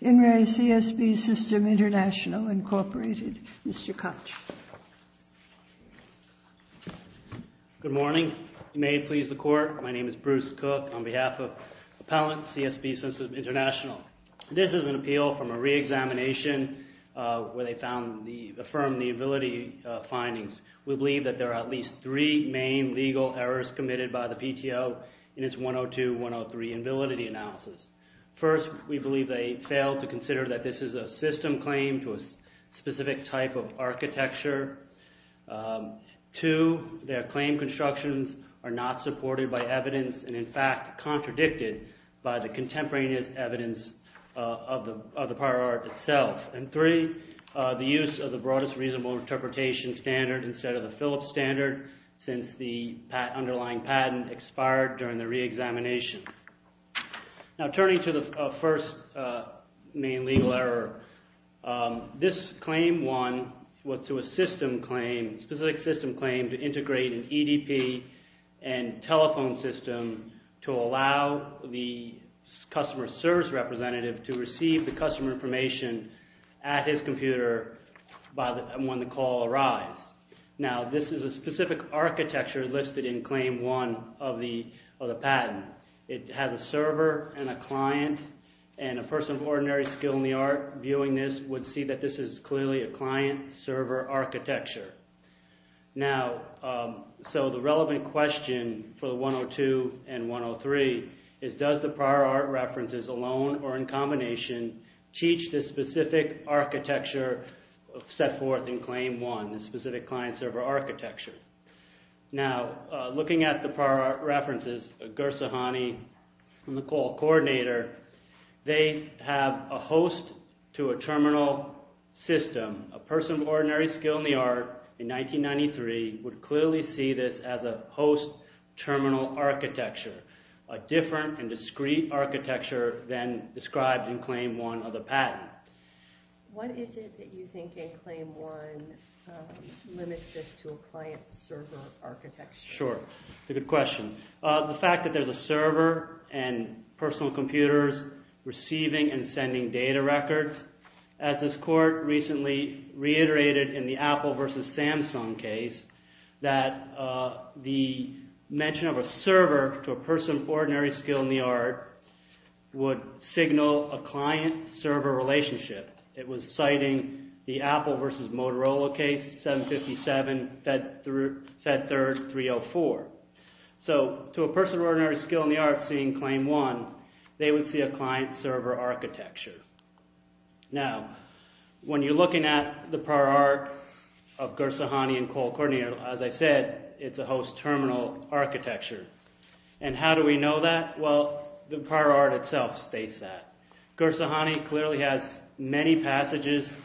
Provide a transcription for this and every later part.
In Re CSB-System International, Inc. Mr. Koch. Good morning. May it please the Court, my name is Bruce Koch on behalf of Appellant CSB-System International. This is an appeal from a re-examination where they found, affirmed the invalidity findings. We believe that there are at least three main legal errors committed by the PTO in its 102-103 invalidity analysis. First, we believe they failed to consider that this is a system claim to a specific type of architecture. Two, their claim constructions are not supported by evidence and in fact contradicted by the contemporaneous evidence of the prior art itself. And three, the use of the Broadest Reasonable Interpretation standard instead of the Phillips standard since the underlying patent expired during the re-examination. Now turning to the first main legal error, this claim one was to a system claim, a specific system claim to integrate an EDP and telephone system to allow the customer service representative to receive the customer information at his computer when the call arrives. Now this is a specific architecture listed in claim one of the patent. It has a server and a client and a person of ordinary skill in the art viewing this would see that this is clearly a client-server architecture. So the relevant question for the 102 and 103 is does the prior art references alone or in claim one the specific client-server architecture? Now looking at the prior art references, Gursahani and the call coordinator, they have a host to a terminal system. A person of ordinary skill in the art in 1993 would clearly see this as a host terminal architecture, a different and discrete architecture than described in claim one of the patent. What is it that you think in claim one limits this to a client-server architecture? Sure. It's a good question. The fact that there's a server and personal computers receiving and sending data records. As this court recently reiterated in the Apple versus Samsung case that the mention of a client-server relationship. It was citing the Apple versus Motorola case 757 Fed Third 304. So to a person of ordinary skill in the art seeing claim one, they would see a client-server architecture. Now when you're looking at the prior art of Gursahani and call coordinator, as I said, it's a host terminal architecture. And how do we know that? Well, the prior art itself states that. Gursahani clearly has many passages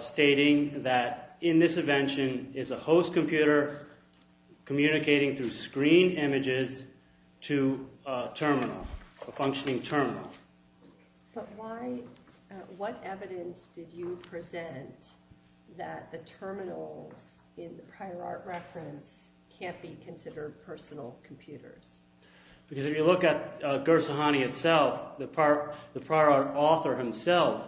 stating that in this invention is a host computer communicating through screen images to a terminal, a functioning terminal. But what evidence did you present that the terminals in the prior art reference can't be considered personal computers? Because if you look at Gursahani itself, the prior art author himself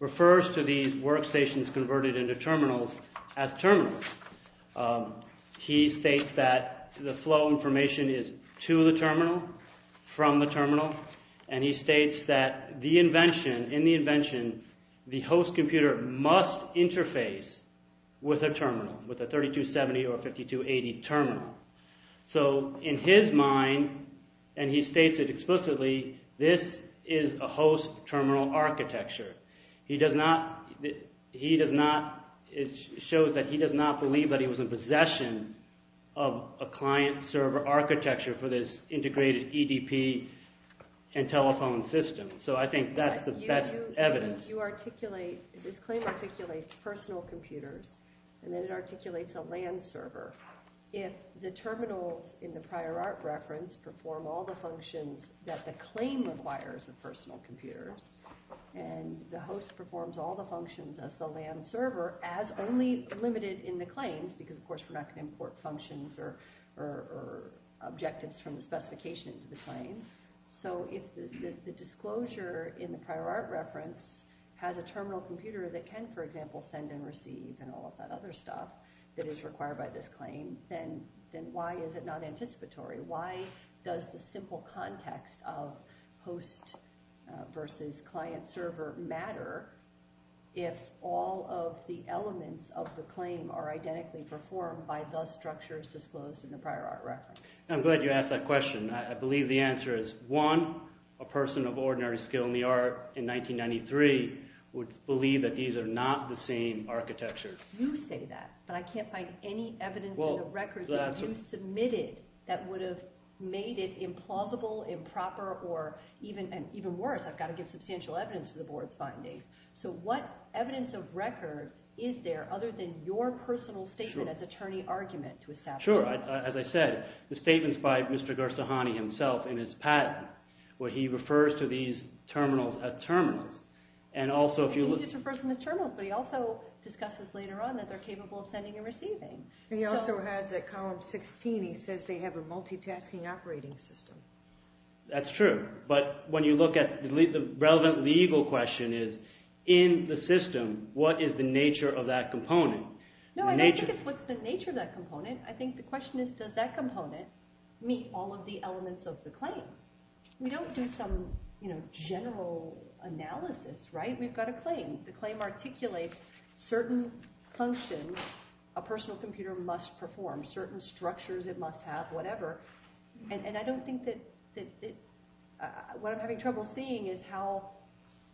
refers to these workstations converted into terminals as terminals. He states that the flow information is to the terminal, from the terminal, and he states that the invention, in the invention, the host computer must interface with a terminal, with a 3270 or 5280 terminal. So in his mind, and he states it explicitly, this is a host terminal architecture. He does not, he does not, it shows that he does not believe that he was in possession of a client-server architecture for this integrated EDP and telephone system. So I think that's the best evidence. You articulate, this claim articulates personal computers, and then it articulates a LAN server. If the terminals in the prior art reference perform all the functions that the claim requires of personal computers, and the host performs all the functions as the LAN server, as only limited in the claims, because of course we're not going to import functions or objectives from the specification into the claim. So if the disclosure in the prior art reference has a terminal computer that can, for example, send and receive and all of that other stuff that is required by this claim, then why is it not anticipatory? Why does the simple context of host versus client-server matter if all of the elements of the claim are identically performed by the structures disclosed in the prior art reference? I'm glad you asked that question. I believe the answer is, one, a person of ordinary skill in the art in 1993 would believe that these are not the same architectures. You say that, but I can't find any evidence in the record that you submitted that would have made it implausible, improper, or even worse, I've got to give substantial evidence to the board's findings. So what evidence of record is there other than your personal statement as attorney argument to establish that? Sure. As I said, the statements by Mr. Gersahani himself in his patent where he refers to these terminals as terminals. And also if you look... He just refers to them as terminals, but he also discusses later on that they're capable of sending and receiving. He also has at column 16, he says they have a multitasking operating system. That's true. But when you look at the relevant legal question is, in the system, what is the nature of that component? No, I don't think it's what's the nature of that component. I think the question is, does that component meet all of the elements of the claim? We don't do some general analysis, right? We've got a claim. The claim articulates certain functions a personal computer must perform, certain structures it must have, whatever. And I don't think that... What I'm having trouble seeing is how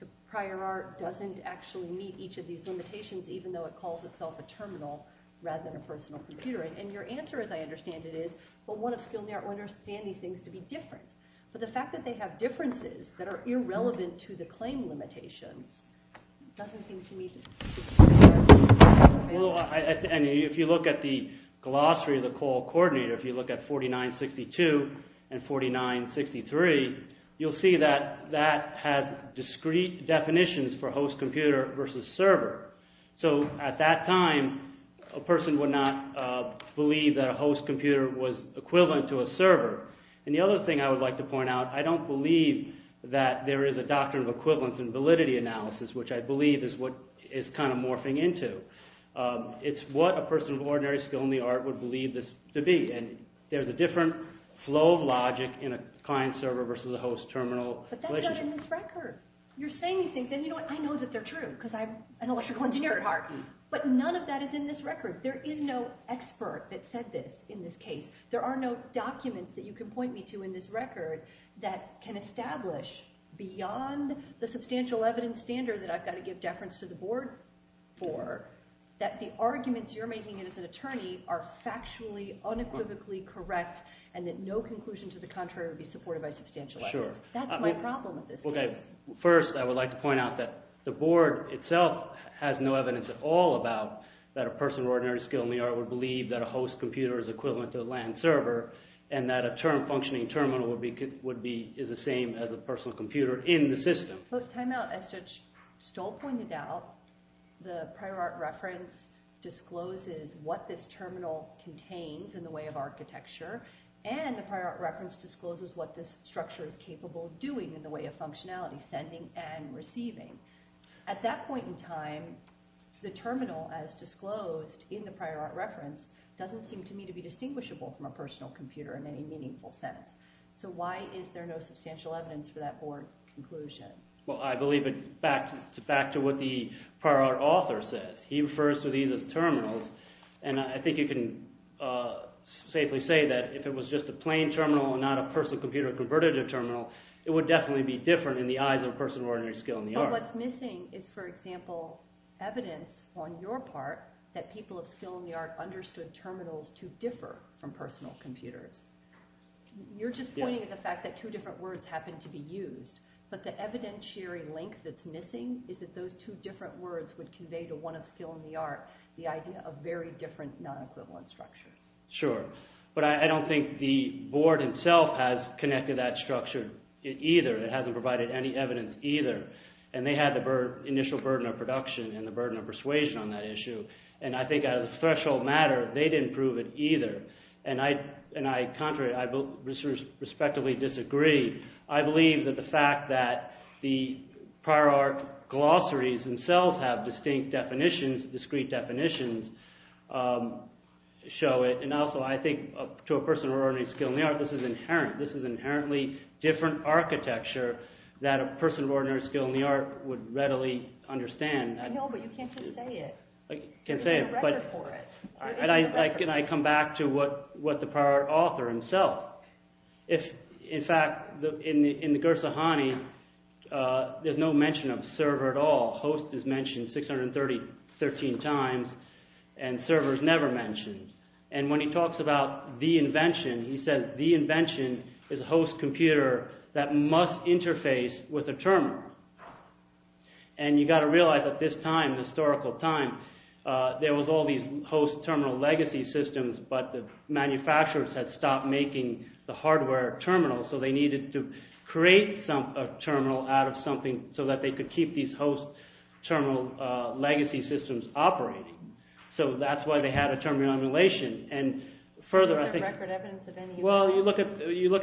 the prior art doesn't actually meet each of these limitations, even though it calls itself a terminal rather than a personal computer. And your answer, as I understand it, is, well, one of Skilner understands these things to be different. But the fact that they have differences that are irrelevant to the claim limitations doesn't seem to me to... If you look at the glossary of the COAL coordinator, if you look at 4962 and 4963, you'll see that that has discrete definitions for host computer versus server. So at that time, a person would not believe that a host computer was equivalent to a server. And the other thing I would like to point out, I don't believe that there is a doctrine of equivalence in validity analysis, which I believe is what is kind of morphing into. It's what a person of ordinary skill in the art would believe this to be. And there's a different flow of logic in a client-server versus a host-terminal relationship. But that's not in this record. You're saying these things, and you know what? I know that they're true, because I'm an electrical engineer at heart, but none of that is in this record. There is no expert that said this in this case. There are no documents that you can point me to in this record that can establish, beyond the substantial evidence standard that I've got to give deference to the board for, that the arguments you're making as an attorney are factually, unequivocally correct, and that no conclusion to the contrary would be supported by substantial evidence. That's my problem with this case. First, I would like to point out that the board itself has no evidence at all about that a person of ordinary skill in the art would believe that a host computer is equivalent to a LAN server, and that a term functioning terminal is the same as a personal computer in the system. So to put time out, as Judge Stoll pointed out, the prior art reference discloses what this terminal contains in the way of architecture, and the prior art reference discloses what this structure is capable of doing in the way of functionality, sending and receiving. At that point in time, the terminal as disclosed in the prior art reference doesn't seem to me to be distinguishable from a personal computer in any meaningful sense. So why is there no substantial evidence for that board conclusion? Well, I believe it's back to what the prior art author says. He refers to these as terminals, and I think you can safely say that if it was just a plain terminal and not a personal computer converted to terminal, it would definitely be different in the eyes of a person of ordinary skill in the art. But what's missing is, for example, evidence on your part that people of skill in the art understood terminals to differ from personal computers. You're just pointing to the fact that two different words happen to be used, but the evidentiary link that's missing is that those two different words would convey to one of skill in the art the idea of very different non-equivalent structures. Sure. But I don't think the board itself has connected that structure either, it hasn't provided any evidence either. And they had the initial burden of production and the burden of persuasion on that issue, and I think as a threshold matter, they didn't prove it either. And I, contrary, I both respectively disagree. I believe that the fact that the prior art glossaries themselves have distinct definitions, discrete definitions, show it. And also I think to a person of ordinary skill in the art, this is inherent. This is inherently different architecture that a person of ordinary skill in the art would readily understand. I know, but you can't just say it. I can't say it. There's a record for it. And I come back to what the prior author himself, if in fact in the Gursahani, there's no mention of server at all. Host is mentioned 613 times and server is never mentioned. And when he talks about the invention, he says the invention is a host computer that must interface with a term. And you've got to realize at this time, the historical time, there was all these host terminal legacy systems, but the manufacturers had stopped making the hardware terminals, so they needed to create a terminal out of something so that they could keep these host terminal legacy systems operating. So that's why they had a terminal emulation. And further, I think... Is there record evidence of any... Well, you look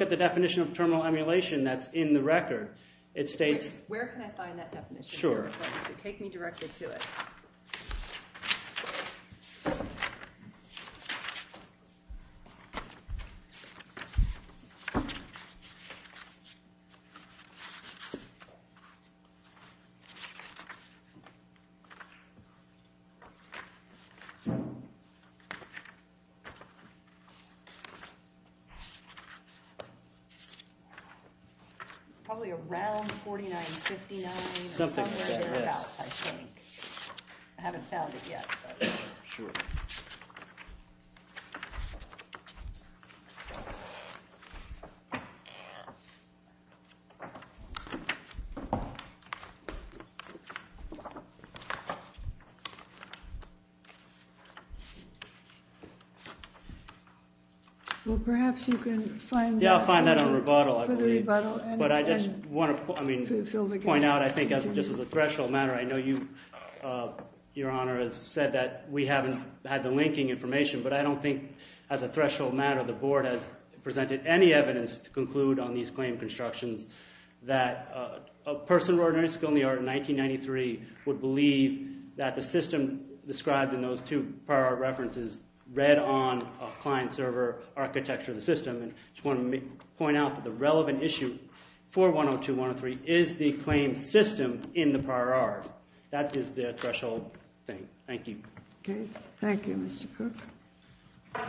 at the definition of terminal emulation that's in the record. It states... Where can I find that definition? Sure. Take me directly to it. It's probably around 4959 or somewhere in thereabouts, I think. I haven't found it yet. Sure. Well, perhaps you can find... Yeah, I'll find that on rebuttal, I believe. But I just want to point out, I think, just as a threshold matter, I know you, Your Honor, has said that we haven't had the linking information, but I don't think, as a threshold matter, the Board has presented any evidence to conclude on these claim constructions that a person of ordinary skill in the art in 1993 would believe that the system described in those two prior art references read on a client-server architecture of the system. And I just want to point out that the relevant issue for 102-103 is the claim system in the prior art. That is the threshold thing. Thank you. Okay. Thank you, Mr. Cook.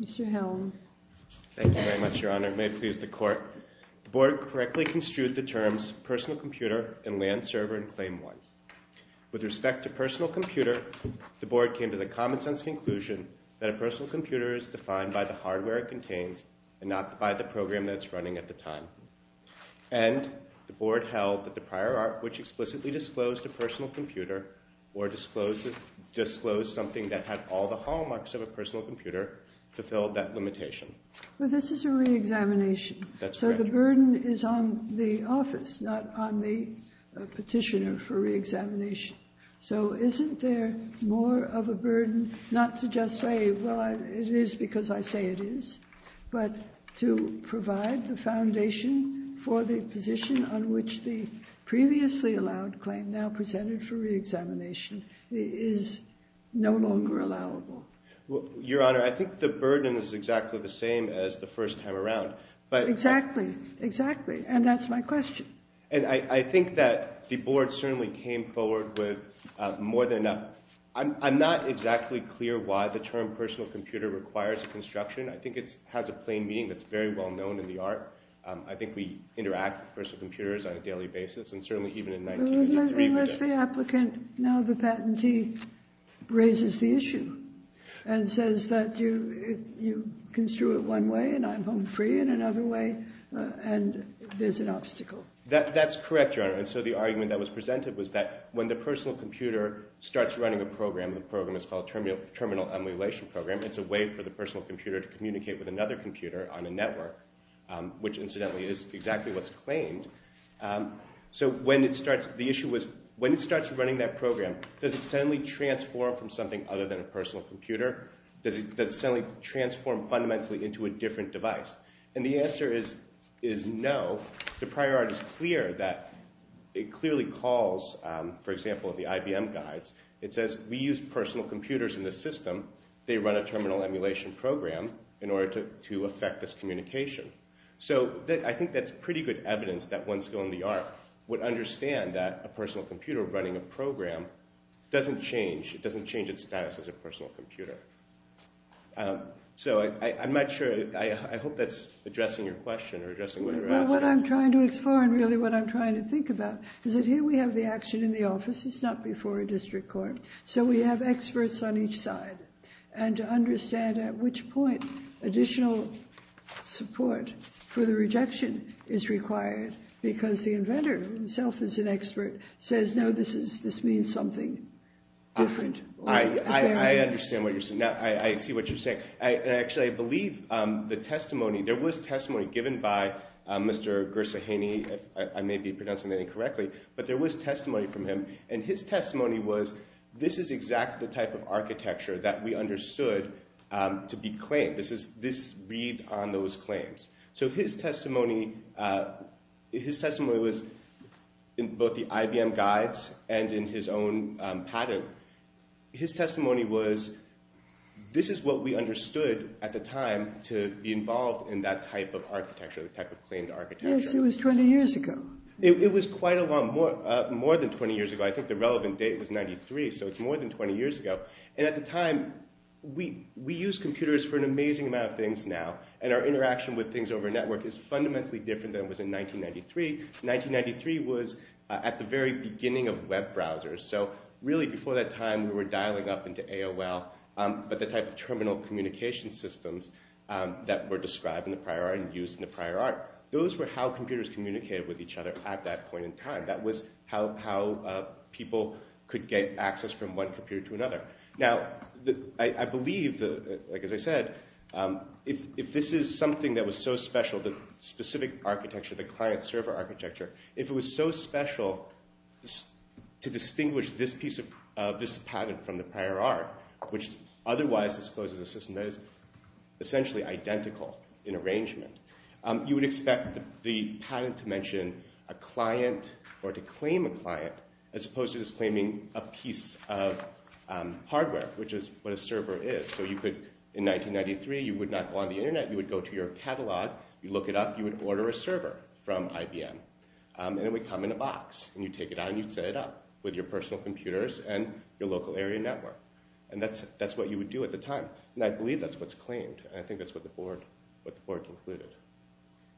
Mr. Hellman. Thank you very much, Your Honor. May it please the Court. The Board correctly construed the terms personal computer and LAN server in Claim 1. With respect to personal computer, the Board came to the common-sense conclusion that a personal computer is defined by the hardware it contains and not by the program that it's running at the time. And the Board held that the prior art, which explicitly disclosed a personal computer or disclosed something that had all the hallmarks of a personal computer, fulfilled that limitation. But this is a re-examination. That's correct. So the burden is on the office, not on the petitioner for re-examination. So isn't there more of a burden not to just say, well, it is because I say it is, but to provide the foundation for the position on which the previously allowed claim now presented for re-examination is no longer allowable? Your Honor, I think the burden is exactly the same as the first time around. Exactly. Exactly. And that's my question. And I think that the Board certainly came forward with more than enough. I'm not exactly clear why the term personal computer requires a construction. I think it has a plain meaning that's very well known in the art. I think we interact with personal computers on a daily basis. And certainly even in 1983 we did. Unless the applicant, now the patentee, raises the issue and says that you construe it one way and I'm home free in another way, and there's an obstacle. That's correct, Your Honor. And so the argument that was presented was that when the personal computer starts running a program, the program is called Terminal Emulation Program, it's a way for the personal computer to communicate with another computer on a network, which incidentally is exactly what's claimed. So when it starts running that program, does it suddenly transform from something other than a personal computer? Does it suddenly transform fundamentally into a different device? And the answer is no. The prior art is clear that it clearly calls, for example, the IBM guides. It says we use personal computers in this system. They run a Terminal Emulation Program in order to affect this communication. So I think that's pretty good evidence that one skill in the art would understand that a personal computer running a program doesn't change. It doesn't change its status as a personal computer. So I'm not sure. I hope that's addressing your question or addressing what you're asking. Well, what I'm trying to explore and really what I'm trying to think about is that here we have the action in the office. It's not before a district court. So we have experts on each side. And to understand at which point additional support for the rejection is required because the inventor himself is an expert, says, no, this means something different. I understand what you're saying. I see what you're saying. Actually, I believe the testimony, there was testimony given by Mr. Gersaheny. I may be pronouncing that incorrectly. But there was testimony from him. And his testimony was this is exactly the type of architecture that we understood to be claimed. This reads on those claims. So his testimony was in both the IBM guides and in his own patent. His testimony was this is what we understood at the time to be involved in that type of architecture, the type of claimed architecture. Yes, it was 20 years ago. It was quite a long, more than 20 years ago. I think the relevant date was 93. So it's more than 20 years ago. And at the time, we use computers for an amazing amount of things now. And our interaction with things over a network is fundamentally different than it was in 1993. 1993 was at the very beginning of web browsers. So really before that time, we were dialing up into AOL, but the type of terminal communication systems that were described in the prior art and used in the prior art. Those were how computers communicated with each other at that point in time. That was how people could get access from one computer to another. Now, I believe, like as I said, if this is something that was so special, the specific architecture, the client-server architecture, if it was so special to distinguish this piece of this patent from the prior art, which otherwise discloses a system that is essentially identical in arrangement, you would expect the patent to mention a client or to claim a client as opposed to just claiming a piece of hardware, which is what a server is. So you could, in 1993, you would not go on the Internet. You would go to your catalog. You'd look it up. You would order a server from IBM. And it would come in a box. And you'd take it out, and you'd set it up with your personal computers and your local area network. And I believe that's what's claimed. And I think that's what the board concluded.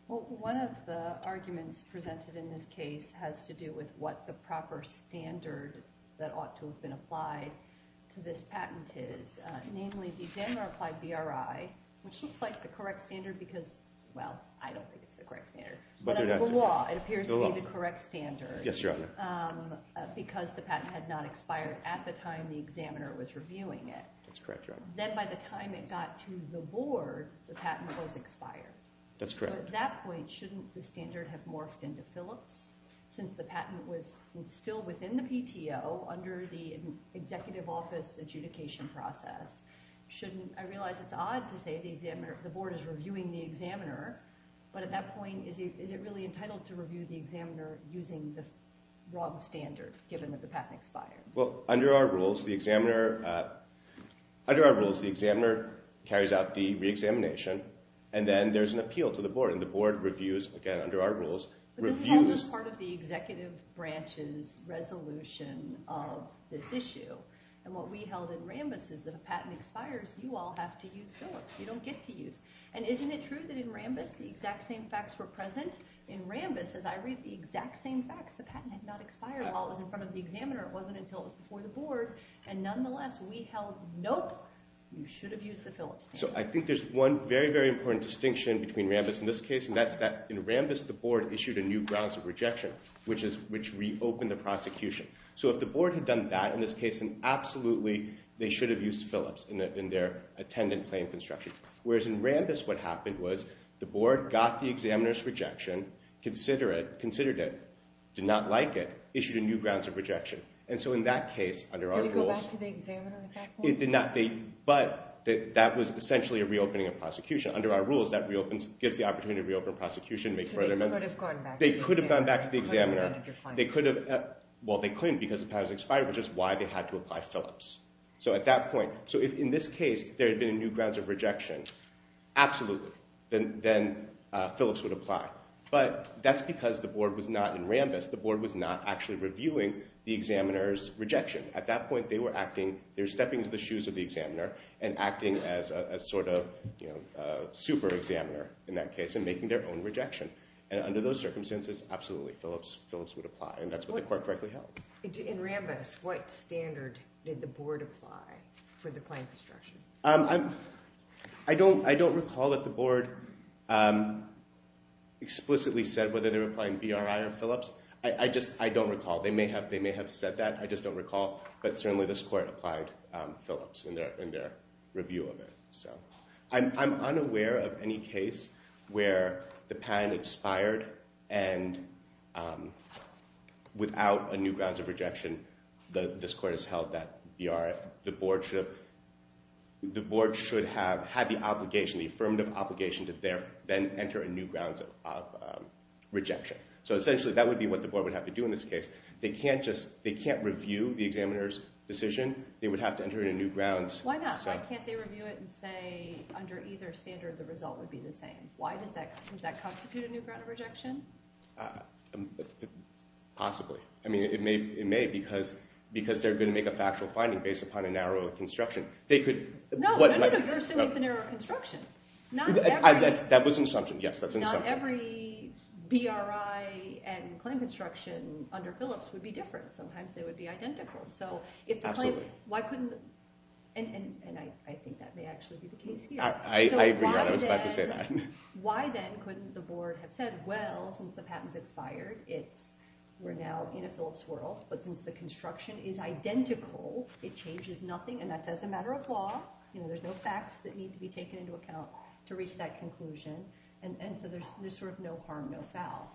Well, one of the arguments presented in this case has to do with what the proper standard that ought to have been applied to this patent is, namely the examiner-applied BRI, which looks like the correct standard because, well, I don't think it's the correct standard. But under the law, it appears to be the correct standard. Yes, Your Honor. Because the patent had not expired at the time the examiner was reviewing it. That's correct, Your Honor. Then by the time it got to the board, the patent was expired. That's correct. So at that point, shouldn't the standard have morphed into Phillips since the patent was still within the PTO under the executive office adjudication process? I realize it's odd to say the board is reviewing the examiner, but at that point, is it really entitled to review the examiner using the wrong standard given that the patent expired? Well, under our rules, the examiner carries out the reexamination, and then there's an appeal to the board, and the board reviews, again, under our rules. But this is all just part of the executive branch's resolution of this issue. And what we held in Rambis is that if a patent expires, you all have to use Phillips. You don't get to use it. And isn't it true that in Rambis the exact same facts were present? In Rambis, as I read, the exact same facts. The patent had not expired while it was in front of the examiner. It wasn't until it was before the board. And nonetheless, we held, nope, you should have used the Phillips standard. So I think there's one very, very important distinction between Rambis and this case, and that's that in Rambis the board issued a new grounds of rejection, which reopened the prosecution. So if the board had done that in this case, then absolutely they should have used Phillips in their attendant claim construction. Whereas in Rambis what happened was the board got the examiner's rejection, considered it, did not like it, issued a new grounds of rejection. And so in that case under our rules. Did it go back to the examiner at that point? It did not. But that was essentially a reopening of prosecution. Under our rules that reopens, gives the opportunity to reopen prosecution, make further amendments. So they could have gone back to the examiner. They could have gone back to the examiner. They could have gone to defiance. Well, they couldn't because the patent was expired, which is why they had to apply Phillips. So at that point, so if in this case there had been a new grounds of rejection, absolutely, then Phillips would apply. But that's because the board was not in Rambis. The board was not actually reviewing the examiner's rejection. At that point they were acting, they were stepping into the shoes of the examiner and acting as a sort of, you know, a super examiner in that case and making their own rejection. And under those circumstances, absolutely Phillips would apply. And that's what the court correctly held. In Rambis, what standard did the board apply for the claim construction? I don't recall that the board explicitly said whether they were applying BRI or Phillips. I just, I don't recall. They may have said that. I just don't recall. But certainly this court applied Phillips in their review of it. I'm unaware of any case where the patent expired and without a new grounds of rejection, the board should have had the obligation, the affirmative obligation to then enter a new grounds of rejection. So essentially that would be what the board would have to do in this case. They can't just, they can't review the examiner's decision. They would have to enter in a new grounds. Why not? Why can't they review it and say under either standard the result would be the same? Why does that, does that constitute a new ground of rejection? Possibly. I mean it may because they're going to make a factual finding based upon a narrow construction. They could. No, no, no. You're saying it's a narrow construction. That was an assumption. Yes, that's an assumption. Not every BRI and claim construction under Phillips would be different. Sometimes they would be identical. Absolutely. So if the claim, why couldn't, and I think that may actually be the case here. I agree. I was about to say that. Why then couldn't the board have said, well, since the patent's expired, we're now in a Phillips world. But since the construction is identical, it changes nothing. And that's as a matter of law. You know, there's no facts that need to be taken into account to reach that conclusion. And so there's sort of no harm, no foul.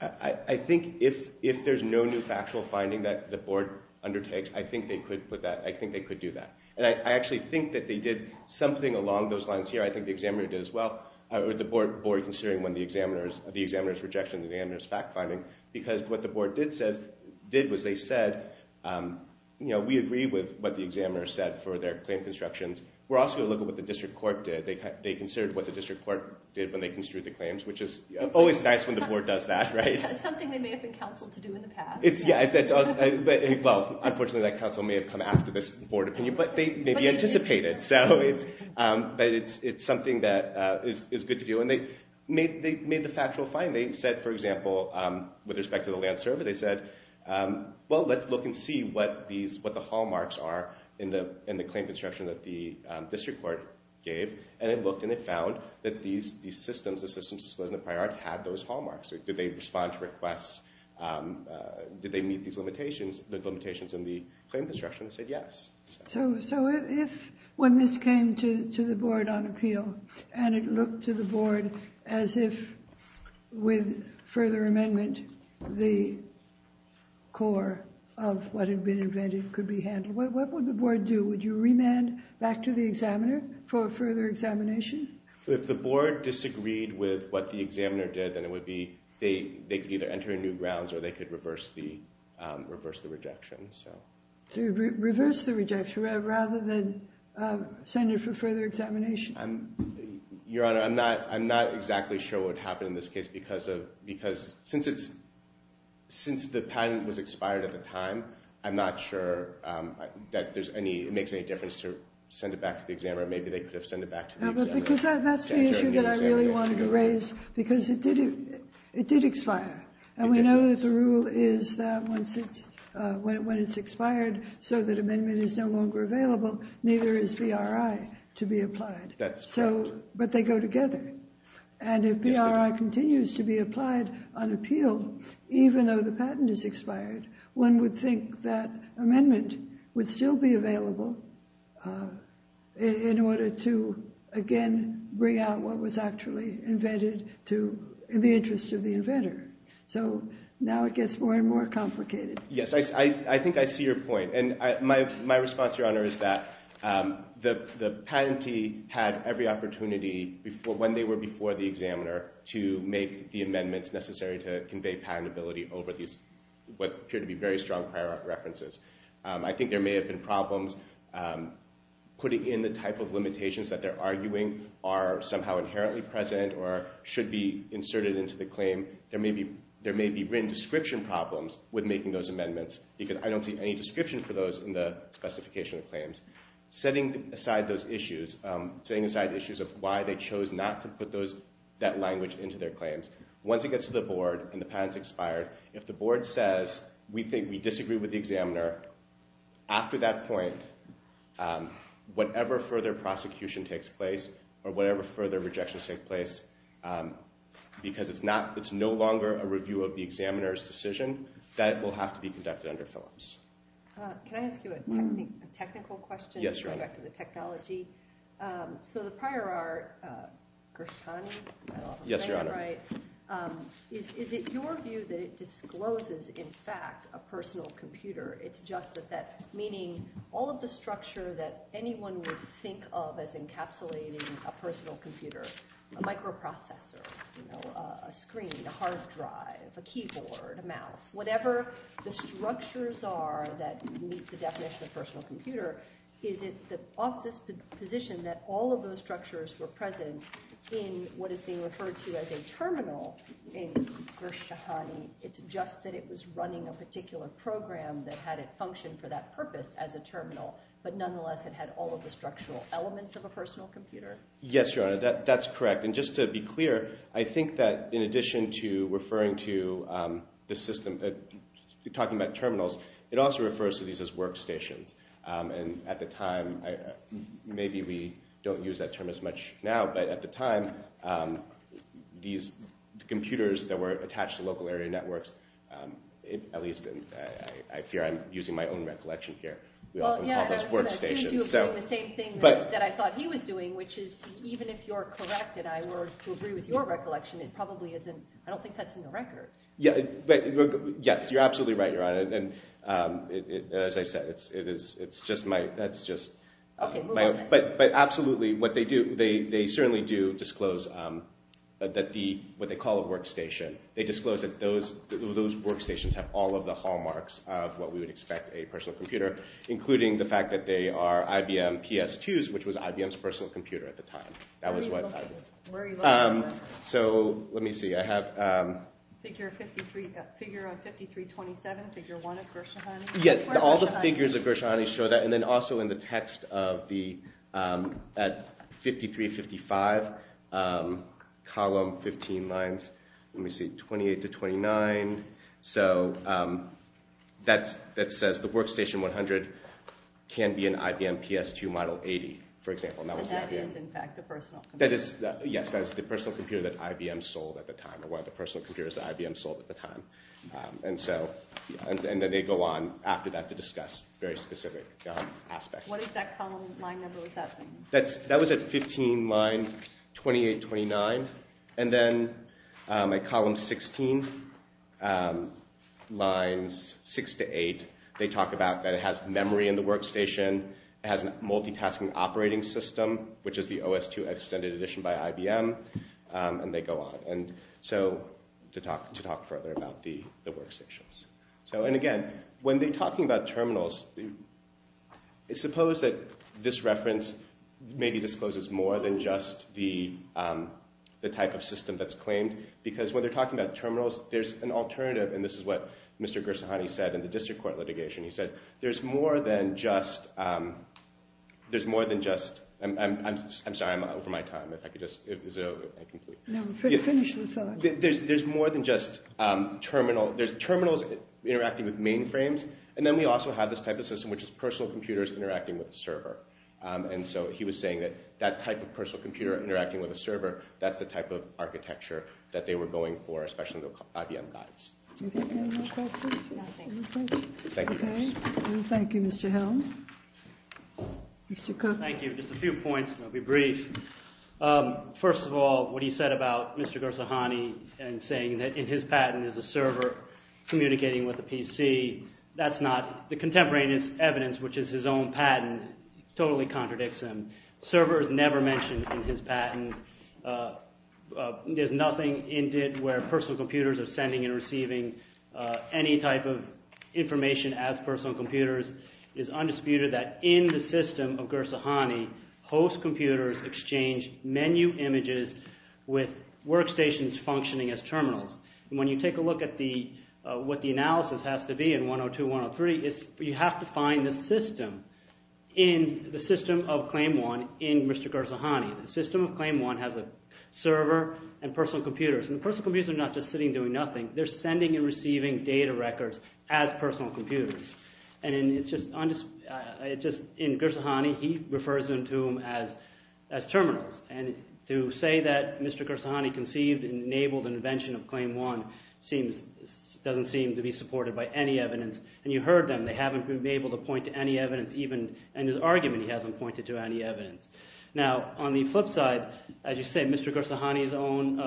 I think if there's no new factual finding that the board undertakes, I think they could put that, I think they could do that. And I actually think that they did something along those lines here. I think the examiner did as well with the board considering when the examiner's, the examiner's rejection, the examiner's fact finding. Because what the board did says, did was they said, you know, we agree with what the examiner said for their claim constructions. We're also going to look at what the district court did. They considered what the district court did when they construed the claims, which is always nice when the board does that, right? Something they may have been counseled to do in the past. Yeah. Well, unfortunately, that counsel may have come after this board opinion. But they maybe anticipated. So it's something that is good to do. And they made the factual finding. They said, for example, with respect to the land survey, they said, well, let's look and see what these, what the hallmarks are in the claim construction that the district court gave. And it looked and it found that these systems, the systems disclosed in the prior act had those hallmarks. Did they respond to requests? Did they meet these limitations, the limitations in the claim construction? They said yes. So if when this came to the board on appeal and it looked to the board as if with further amendment, the core of what had been invented could be handled, what would the board do? Would you remand back to the examiner for further examination? If the board disagreed with what the examiner did, then it would be they could either enter new grounds or they could reverse the rejection. So reverse the rejection rather than send it for further examination. Your Honor, I'm not exactly sure what happened in this case because since the patent was expired at the time, I'm not sure that there's any, it makes any difference to send it back to the examiner. Maybe they could have sent it back to the examiner. Because that's the issue that I really wanted to raise because it did expire. And we know that the rule is that when it's expired so that amendment is no longer available, neither is BRI to be applied. But they go together. And if BRI continues to be applied on appeal, even though the patent is expired, one would think that amendment would still be available in order to, again, bring out what was actually invented in the interest of the inventor. So now it gets more and more complicated. Yes, I think I see your point. And my response, Your Honor, is that the patentee had every opportunity when they were before the examiner to make the amendments necessary to convey patentability over these what appear to be very strong prior references. I think there may have been problems putting in the type of limitations that they're arguing are somehow inherently present or should be inserted into the claim. There may be written description problems with making those amendments because I don't see any description for those in the specification of claims. Setting aside those issues, setting aside issues of why they chose not to put that language into their claims, once it gets to the board and the patent's expired, if the board says, we think we disagree with the examiner, after that point, whatever further prosecution takes place or whatever further rejections take place because it's no longer a review of the examiner's decision, that will have to be conducted under Phillips. Can I ask you a technical question? Yes, Your Honor. Going back to the technology. So the prior art, Gershtani? Yes, Your Honor. Is it your view that it discloses, in fact, a personal computer? It's just that that meaning all of the structure that anyone would think of as encapsulating a personal computer, a microprocessor, a screen, a hard drive, a computer, whatever the structures are that meet the definition of personal computer, is it the opposite position that all of those structures were present in what is being referred to as a terminal in Gershtani? It's just that it was running a particular program that had it function for that purpose as a terminal, but nonetheless it had all of the structural elements of a personal computer? Yes, Your Honor, that's correct. And just to be clear, I think that in addition to referring to the system, talking about terminals, it also refers to these as workstations. And at the time, maybe we don't use that term as much now, but at the time, these computers that were attached to local area networks, at least I fear I'm using my own recollection here, we often call those workstations. Well, yeah, I was going to argue the same thing that I thought he was doing, which is even if you're correct and I were to agree with your recollection, it probably isn't – I don't think that's in the record. Yes, you're absolutely right, Your Honor. And as I said, it's just my – that's just – Okay, move on then. But absolutely, what they do, they certainly do disclose that the – what they call a workstation, they disclose that those workstations have all of the hallmarks of what we would expect a personal computer, including the fact that they are IBM PS2s, which was IBM's personal computer at the time. That was what I – Where are you looking at that? So let me see. I have – Figure 53 – figure 5327, figure one at Gershwani. Yes, all the figures at Gershwani show that. And then also in the text of the – at 5355, column 15 lines, let me see, 28 to 29. So that says the workstation 100 can be an IBM PS2 model 80, for example. And that is, in fact, a personal computer. Yes, that is the personal computer that IBM sold at the time, or one of the personal computers that IBM sold at the time. And so – and then they go on after that to discuss very specific aspects. What is that column line number? What does that mean? That was at 15, line 28, 29. And then at column 16, lines 6 to 8, they talk about that it has memory in the workstation. It has a multitasking operating system, which is the OS2 Extended Edition by IBM. And they go on. And so to talk further about the workstations. So, and again, when they're talking about terminals, suppose that this reference maybe discloses more than just the type of system that's claimed. Because when they're talking about terminals, there's an alternative, and this is what Mr. Gershwani said in the district court litigation. He said there's more than just – there's more than just – I'm sorry, I'm over my time. If I could just – is it over? No, finish the thought. There's more than just terminal. There's terminals interacting with mainframes. And then we also have this type of system, which is personal computers interacting with a server. And so he was saying that that type of personal computer interacting with a server, that's the type of architecture that they were going for, especially the IBM guys. Do you have any more questions? No, thank you. Thank you. Okay. Well, thank you, Mr. Helm. Mr. Cook. Thank you. Just a few points, and I'll be brief. First of all, what he said about Mr. Gershwani and saying that in his patent is a server communicating with a PC, that's not – the contemporaneous evidence, which is his own patent, totally contradicts him. Server is never mentioned in his patent. There's nothing in it where personal computers are sending and receiving any type of information as personal computers. It is undisputed that in the system of Gershwani, host computers exchange menu images with workstations functioning as terminals. And when you take a look at what the analysis has to be in 102, 103, you have to find the system in the system of Claim 1 in Mr. Gershwani. The system of Claim 1 has a server and personal computers, and the personal computers are not just sitting doing nothing. They're sending and receiving data records as personal computers. And it's just – in Gershwani, he refers to them as terminals. And to say that Mr. Gershwani conceived and enabled the invention of Claim 1 seems – doesn't seem to be supported by any evidence. And you heard them. They haven't been able to point to any evidence even – and his argument he hasn't pointed to any evidence. Now, on the flip side, as you said, Mr. Gershwani's own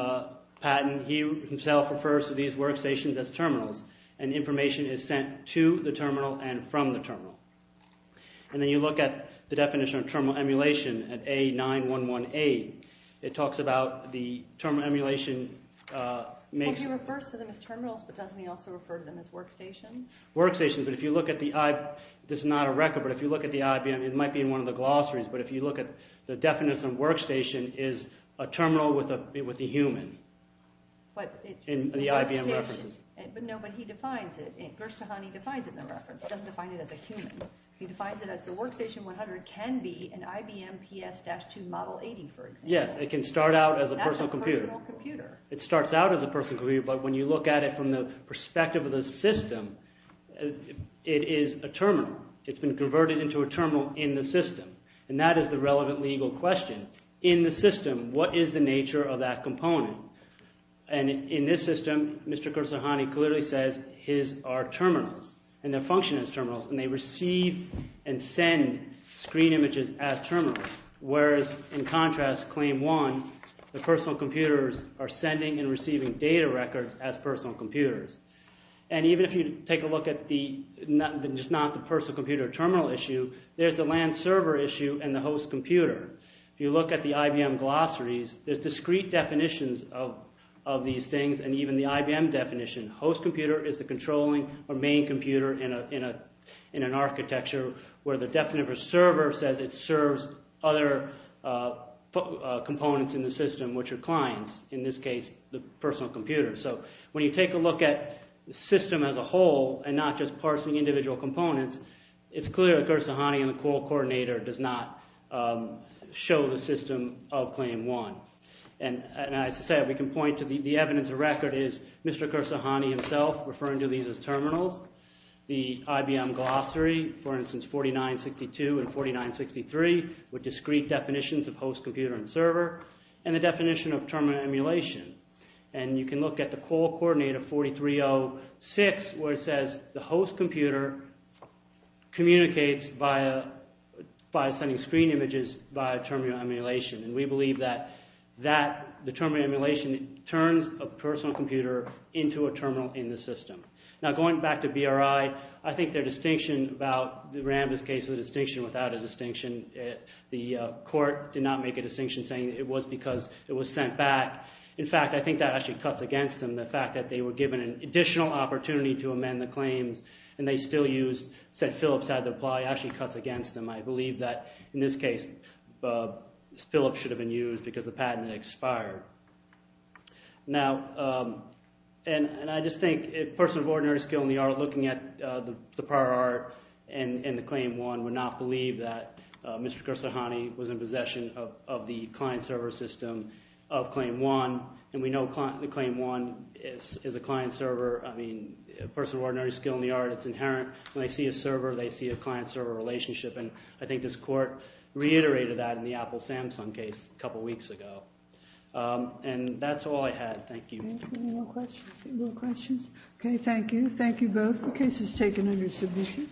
patent, he himself refers to these workstations as terminals, and information is sent to the terminal and from the terminal. And then you look at the definition of terminal emulation at A911A. It talks about the terminal emulation makes – Well, he refers to them as terminals, but doesn't he also refer to them as workstations? Workstations, but if you look at the – this is not a record, but if you look at the IBM – it might be in one of the glossaries, but if you look at the definition of workstation is a terminal with a human in the IBM references. But no, but he defines it. Gershwani defines it in the reference. He doesn't define it as a human. He defines it as the Workstation 100 can be an IBM PS-2 Model 80, for example. Yes, it can start out as a personal computer. It's not a personal computer. It starts out as a personal computer, but when you look at it from the perspective of the system, it is a terminal. It's been converted into a terminal in the system, and that is the relevant legal question. In the system, what is the nature of that component? In this system, Mr. Gershwani clearly says his are terminals, and they function as terminals, and they receive and send screen images as terminals, whereas in contrast, Claim 1, the personal computers are sending and receiving data records as personal computers. And even if you take a look at the – just not the personal computer terminal issue, there's the LAN server issue and the host computer. If you look at the IBM glossaries, there's discrete definitions of these things, and even the IBM definition. Host computer is the controlling or main computer in an architecture where the definite server says it serves other components in the system, which are clients. In this case, the personal computer. So when you take a look at the system as a whole and not just parsing individual components, it's clear that Gershwani and the call coordinator does not show the system of Claim 1. And as I said, we can point to the evidence of record is Mr. Gershwani himself referring to these as terminals. The IBM glossary, for instance, 4962 and 4963 with discrete definitions of host computer and server and the definition of terminal emulation. And you can look at the call coordinator 4306 where it says the host computer communicates by sending screen images via terminal emulation. And we believe that the terminal emulation turns a personal computer into a terminal in the system. Now, going back to BRI, I think their distinction about – the RAMBIS case, the distinction without a distinction. The court did not make a distinction saying it was because it was sent back. In fact, I think that actually cuts against them. The fact that they were given an additional opportunity to amend the claims and they still used – said Philips had to apply actually cuts against them. I believe that, in this case, Philips should have been used because the patent had expired. And I just think a person of ordinary skill in the art looking at the prior art and the Claim 1 would not believe that Mr. Kursahani was in possession of the client-server system of Claim 1. And we know the Claim 1 is a client-server. I mean, a person of ordinary skill in the art, it's inherent. When they see a server, they see a client-server relationship. And I think this court reiterated that in the Apple-Samsung case a couple weeks ago. And that's all I had. Thank you. Any more questions? Okay, thank you. Thank you both. The case is taken under submission.